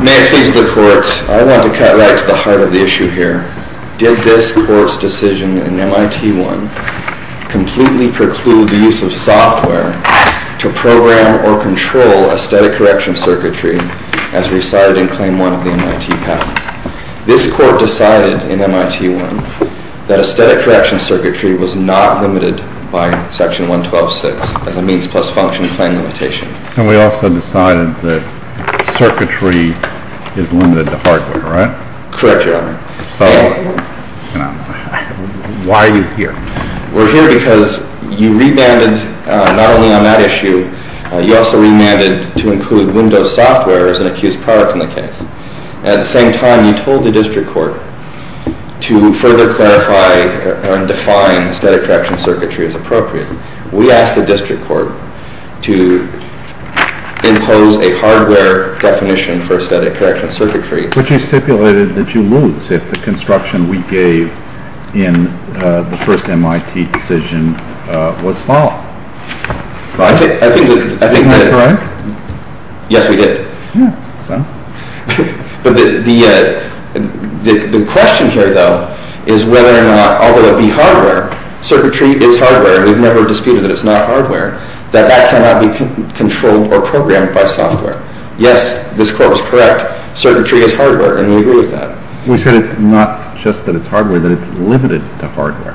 May it please the Court, I want to cut right to the heart of the issue here. Did this Court's decision in MIT-1 completely preclude the use of software to program or control a static correction circuitry as recited in Claim 1 of the MIT patent? This Court decided in MIT-1 that a static correction circuitry was not limited by Section 112.6 as a means plus function claim limitation. And we also decided that circuitry is limited to hardware, right? Correct, Your Honor. So, why are you here? We're here because you remanded, not only on that issue, you also remanded to include Windows Software as an accused product in the case. At the same time, you told the District Court to further clarify and define static correction circuitry as appropriate. We asked the District Court to impose a hardware definition for static correction circuitry. But you stipulated that you lose if the construction we gave in the first MIT decision was followed. I think that... Am I correct? Yes, we did. Yeah, so? But the question here, though, is whether or not, although it be hardware, circuitry is hardware, we've never disputed that it's not hardware, that that cannot be controlled or programmed by software. Yes, this Court was correct. Circuitry is hardware, and we agree with that. We said it's not just that it's hardware, that it's limited to hardware.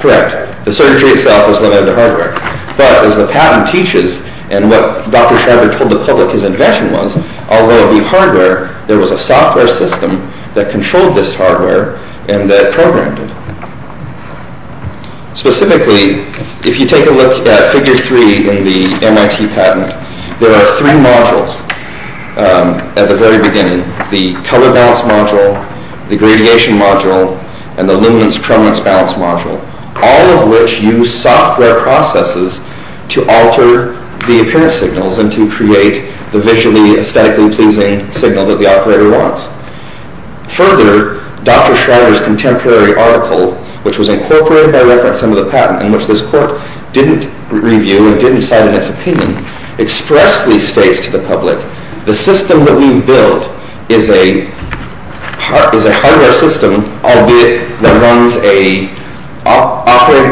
Correct. The circuitry itself is limited to hardware. But, as the patent teaches, and what Dr. Schreiber told the public his intention was, although it be hardware, there was a software system that controlled this hardware and that programmed it. Specifically, if you take a look at figure three in the MIT patent, there are three modules at the very beginning. The color balance module, the gradation module, and the luminance-chromance balance module, all of which use software processes to alter the appearance signals and to create the visually aesthetically pleasing signal that the operator wants. Further, Dr. Schreiber's contemporary article, which was incorporated by reference into the patent, and which this Court didn't review and didn't cite in its opinion, expressly states to the public, the system that we've built is a hardware system, albeit that runs an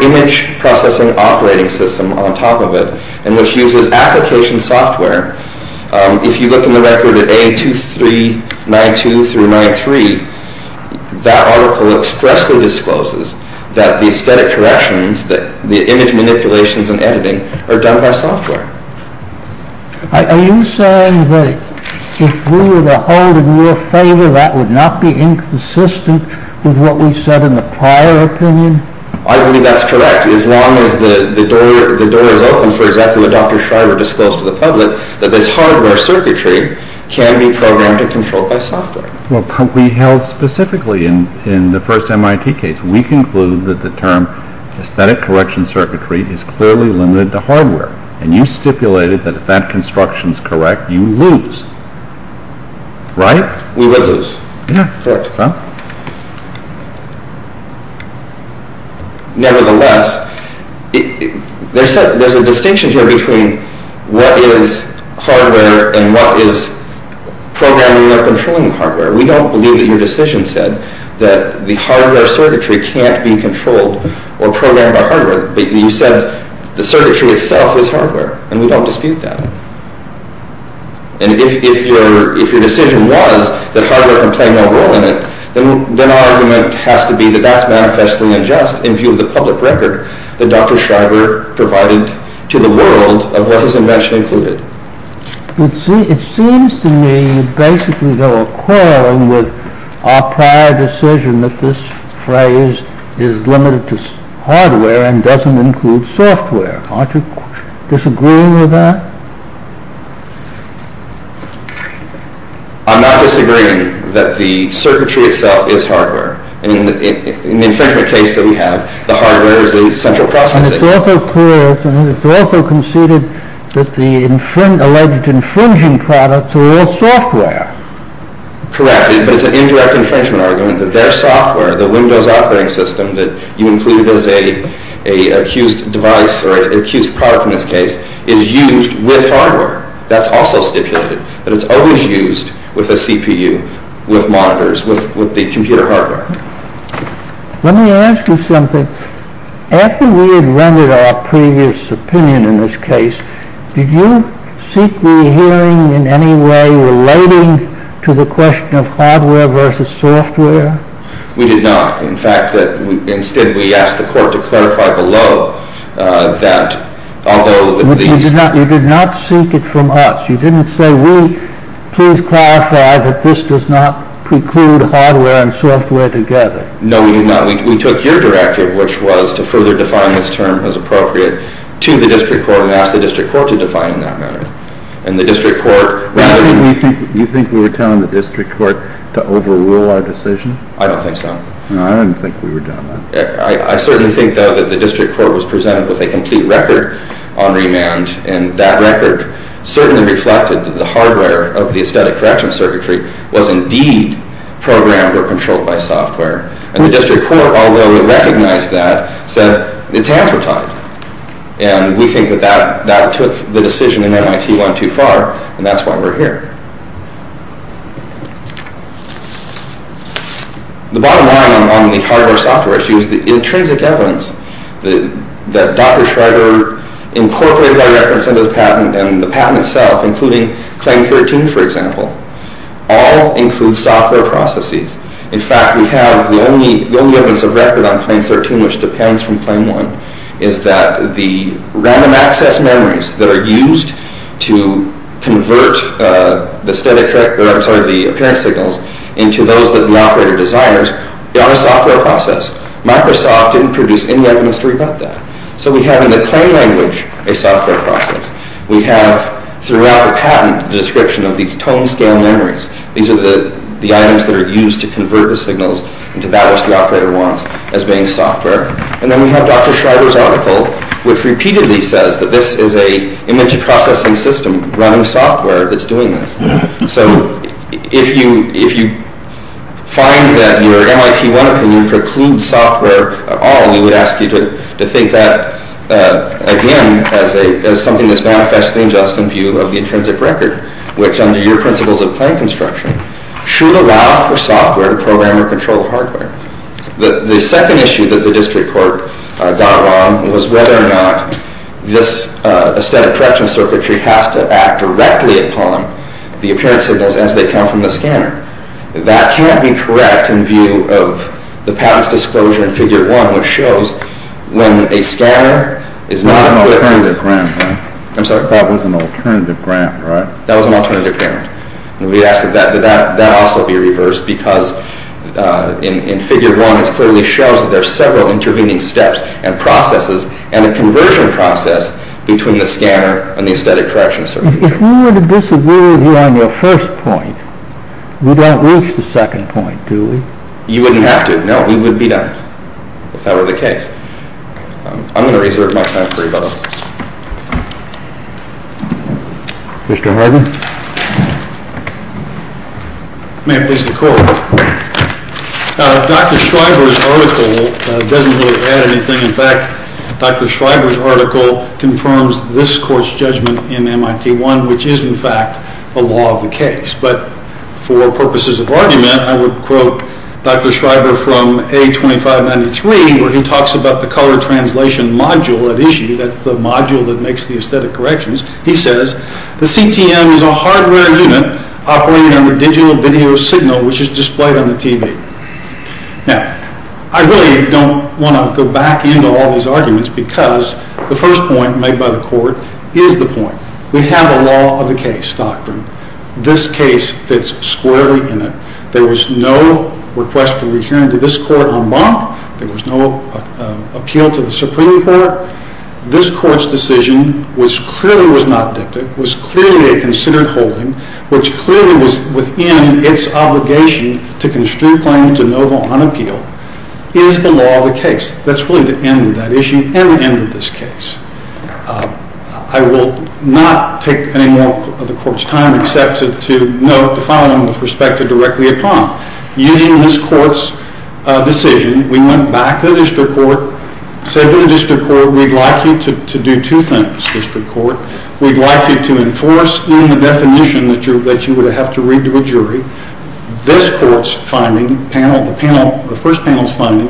image processing operating system on top of it, and which uses application software. If you look in the record at A2392-93, that article expressly discloses that the aesthetic corrections, the image manipulations and editing, are done by software. I believe that's correct. As long as the door is open for exactly what Dr. Schreiber disclosed to the public, that this hardware circuitry can be programmed and controlled by software. We held specifically in the first MIT case, we conclude that the term aesthetic correction circuitry is clearly limited to hardware, and you stipulated that if that construction is correct, you lose. Right? We would lose. Yeah. Correct. Nevertheless, there's a distinction here between what is hardware and what is programming or controlling hardware. We don't believe that your decision said that the hardware circuitry can't be controlled or programmed by hardware. You said the circuitry itself is hardware, and we don't dispute that. And if your decision was that hardware can play no role in it, then our argument has to be that that's manifestly unjust in view of the public record that Dr. Schreiber provided to the world of what his invention included. It seems to me that you basically have a quarrel with our prior decision that this phrase is limited to hardware and doesn't include software. Aren't you disagreeing with that? I'm not disagreeing that the circuitry itself is hardware. In the infringement case that we have, the hardware is the central processing. And it's also clear, and it's also conceded, that the alleged infringing products are all software. Correct. But it's an indirect infringement argument that their software, the Windows operating system that you included as an accused device or an accused product in this case, is used with hardware. That's also stipulated, that it's always used with a CPU, with monitors, with the computer hardware. Let me ask you something. After we had rendered our previous opinion in this case, did you seek the hearing in any way relating to the question of hardware versus software? We did not. In fact, instead we asked the court to clarify below that although these... But you did not seek it from us. You didn't say, we please clarify that this does not preclude hardware and software together. No, we did not. We took your directive, which was to further define this term as appropriate to the district court, and we asked the district court to define it in that manner. And the district court... You think we were telling the district court to overrule our decision? I don't think so. No, I don't think we were doing that. I certainly think, though, that the district court was presented with a complete record on remand, and that record certainly reflected that the hardware of the aesthetic correction circuitry was indeed programmed or controlled by software. And the district court, although it recognized that, said its hands were tied. And we think that that took the decision in MIT one too far, and that's why we're here. The bottom line on the hardware-software issue is the intrinsic evidence that Dr. Schreiber incorporated our reference into the patent and the patent itself, including Claim 13, for example, all include software processes. In fact, we have the only evidence of record on Claim 13, which depends from Claim 1, is that the random-access memories that are used to convert the appearance signals into those that the operator desires are a software process. Microsoft didn't produce any evidence to rebut that. So we have in the claim language a software process. We have throughout the patent the description of these tone-scale memories. These are the items that are used to convert the signals into that which the operator wants as being software. And then we have Dr. Schreiber's article, which repeatedly says that this is an image-processing system running software that's doing this. So if you find that your MIT one opinion precludes software at all, we would ask you to think that, again, as something that's manifestly in just in view of the intrinsic record, which under your principles of claim construction should allow for software to program or control hardware. The second issue that the district court got wrong was whether or not this aesthetic correction circuitry has to act directly upon the appearance signals as they come from the scanner. That can't be correct in view of the patent's disclosure in Figure 1, which shows when a scanner is not an alternative grant. I'm sorry? That was an alternative grant, right? That was an alternative grant. We ask that that also be reversed because in Figure 1 it clearly shows that there are several intervening steps and processes and a conversion process between the scanner and the aesthetic correction circuitry. If we were to disagree with you on your first point, we don't reach the second point, do we? You wouldn't have to. No, we would be done if that were the case. I'm going to reserve my time for rebuttal. Mr. Hardin? May it please the Court. Dr. Shriver's article doesn't really add anything. In fact, Dr. Shriver's article confirms this Court's judgment in MIT-1, which is, in fact, the law of the case. But for purposes of argument, I would quote Dr. Shriver from A2593 where he talks about the color translation module at issue. That's the module that makes the aesthetic corrections. He says, The CTM is a hardware unit operating under digital video signal, which is displayed on the TV. Now, I really don't want to go back into all these arguments because the first point made by the Court is the point. We have a law of the case doctrine. This case fits squarely in it. There was no request for rehearing to this Court en banc. There was no appeal to the Supreme Court. This Court's decision, which clearly was not dictated, was clearly a considered holding, which clearly was within its obligation to construe claims de novo on appeal, is the law of the case. That's really the end of that issue and the end of this case. I will not take any more of the Court's time except to note the following with respect to directly upon. Using this Court's decision, we went back to the district court, said to the district court, We'd like you to do two things, district court. We'd like you to enforce in the definition that you would have to read to a jury this Court's finding, the first panel's finding,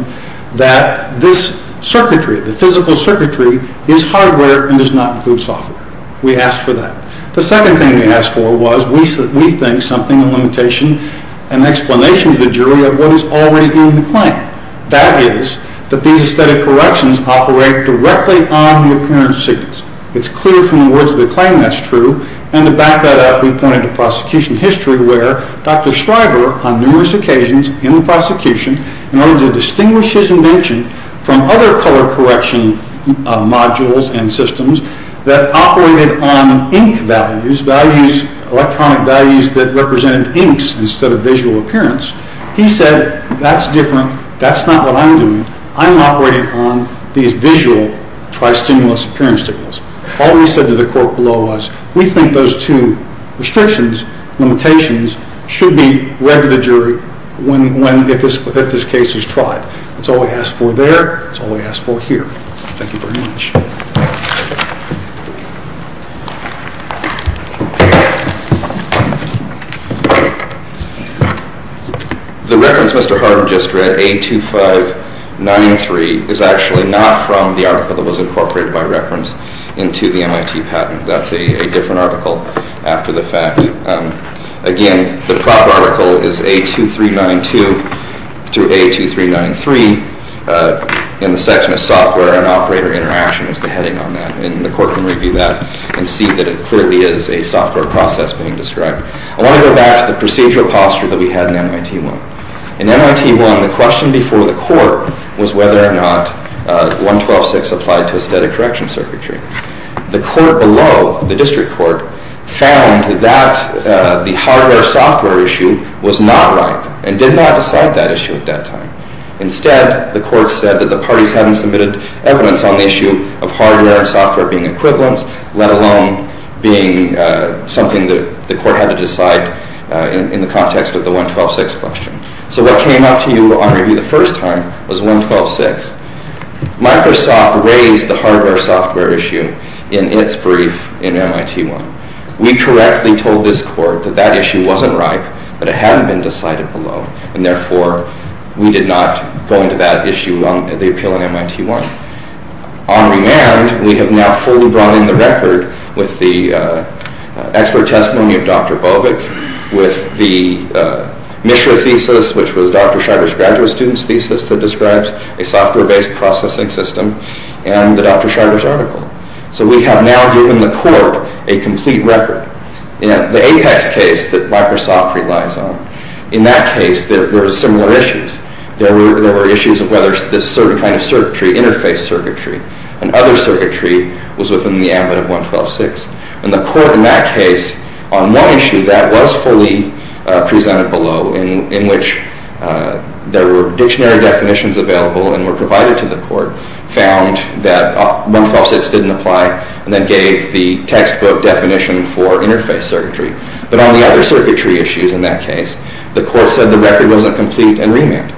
that this circuitry, the physical circuitry, is hardware and does not include software. We asked for that. The second thing we asked for was, we think something, a limitation, an explanation to the jury of what is already in the claim. That is that these aesthetic corrections operate directly on the appearance signals. It's clear from the words of the claim that's true. And to back that up, we pointed to prosecution history where Dr. Schreiber, on numerous occasions in the prosecution, in order to distinguish his invention from other color correction modules and systems that operated on ink values, electronic values that represented inks instead of visual appearance. He said, that's different. That's not what I'm doing. I'm operating on these visual tri-stimulus appearance signals. All he said to the court below was, We think those two restrictions, limitations, should be read to the jury if this case is tried. That's all we asked for there. That's all we asked for here. Thank you very much. The reference Mr. Harden just read, A2593, is actually not from the article that was incorporated by reference into the MIT patent. That's a different article after the fact. Again, the proper article is A2392 through A2393. In the section of software and operator interaction is the heading on that. And the court can review that and see that it clearly is a software process being described. I want to go back to the procedural posture that we had in MIT-1. In MIT-1, the question before the court was whether or not 112-6 applied to aesthetic correction circuitry. The court below, the district court, found that the hardware-software issue was not right and did not decide that issue at that time. Instead, the court said that the parties hadn't submitted evidence on the issue of hardware and software being equivalents, let alone being something that the court had to decide in the context of the 112-6 question. So what came up to you on review the first time was 112-6. Microsoft raised the hardware-software issue in its brief in MIT-1. We correctly told this court that that issue wasn't right, that it hadn't been decided below, and therefore we did not go into that issue on the appeal in MIT-1. On remand, we have now fully brought in the record with the expert testimony of Dr. Bovik, with the MISHRA thesis, which was Dr. Scheider's graduate student's thesis that describes a software-based processing system, and the Dr. Scheider's article. So we have now given the court a complete record. In the APEX case that Microsoft relies on, in that case there were similar issues. There were issues of whether there's a certain kind of circuitry, interface circuitry, and other circuitry was within the ambit of 112-6. And the court in that case, on one issue that was fully presented below, in which there were dictionary definitions available and were provided to the court, found that 112-6 didn't apply, and then gave the textbook definition for interface circuitry. But on the other circuitry issues in that case, the court said the record wasn't complete and remanded.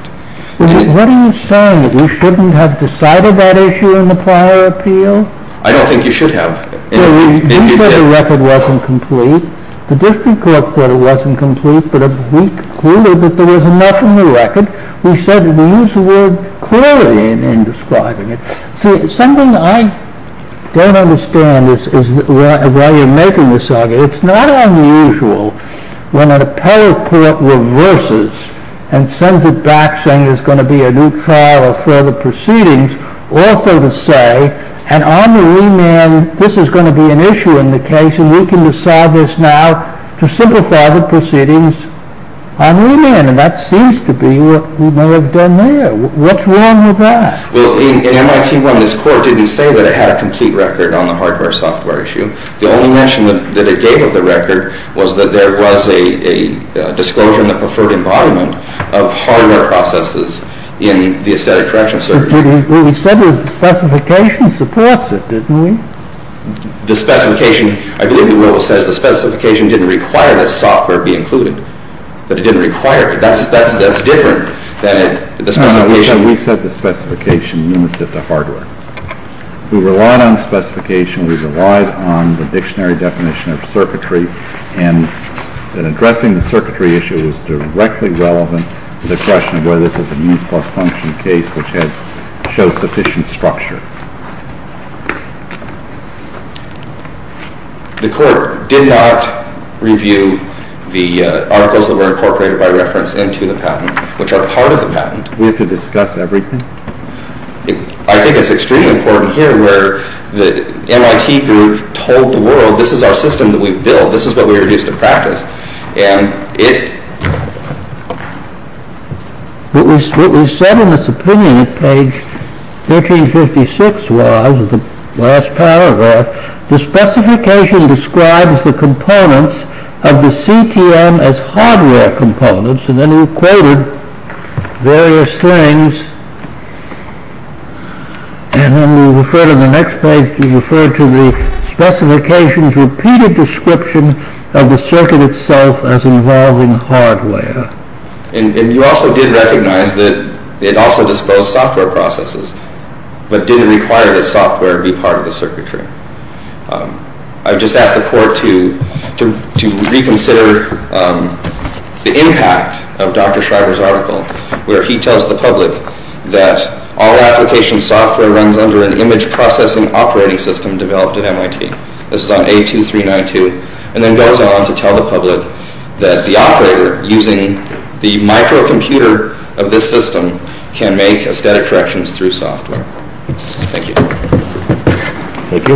What are you saying? That we shouldn't have decided that issue in the prior appeal? I don't think you should have. So you said the record wasn't complete. The district court thought it wasn't complete, but we concluded that there was enough in the record. We said that we used the word clearly in describing it. See, something I don't understand is why you're making this argument. It's not unusual when an appellate court reverses and sends it back saying there's going to be a new trial or further proceedings, also to say, and on the remand, this is going to be an issue in the case, and we can decide this now to simplify the proceedings on remand. And that seems to be what we may have done there. What's wrong with that? Well, in MIT 1, this court didn't say that it had a complete record on the hardware-software issue. The only mention that it gave of the record was that there was a disclosure in the preferred embodiment of hardware processes in the aesthetic correction service. But what we said was the specification supports it, didn't we? The specification, I believe the rule says the specification didn't require that software be included, that it didn't require it. That's different than the specification. We said the specification limits it to hardware. We relied on the specification. We relied on the dictionary definition of circuitry, and that addressing the circuitry issue was directly relevant to the question of whether this is a means-plus-function case which shows sufficient structure. The court did not review the articles that were incorporated by reference into the patent, which are part of the patent. We have to discuss everything? I think it's extremely important here where the MIT group told the world, this is our system that we've built, this is what we're used to practice. And it... What we said in this opinion at page 1356 was, the last paragraph, the specification describes the components of the CTM as hardware components, and then we quoted various things, and when we refer to the next page, we refer to the specification's repeated description of the circuit itself as involving hardware. And you also did recognize that it also disclosed software processes, but didn't require that software be part of the circuitry. I've just asked the court to reconsider the impact of Dr. Shriver's article, where he tells the public that all application software runs under an image processing operating system developed at MIT. This is on A2392, and then goes on to tell the public that the operator using the microcomputer of this system can make aesthetic corrections through software. Thank you. Thank you. All rise. Thank you.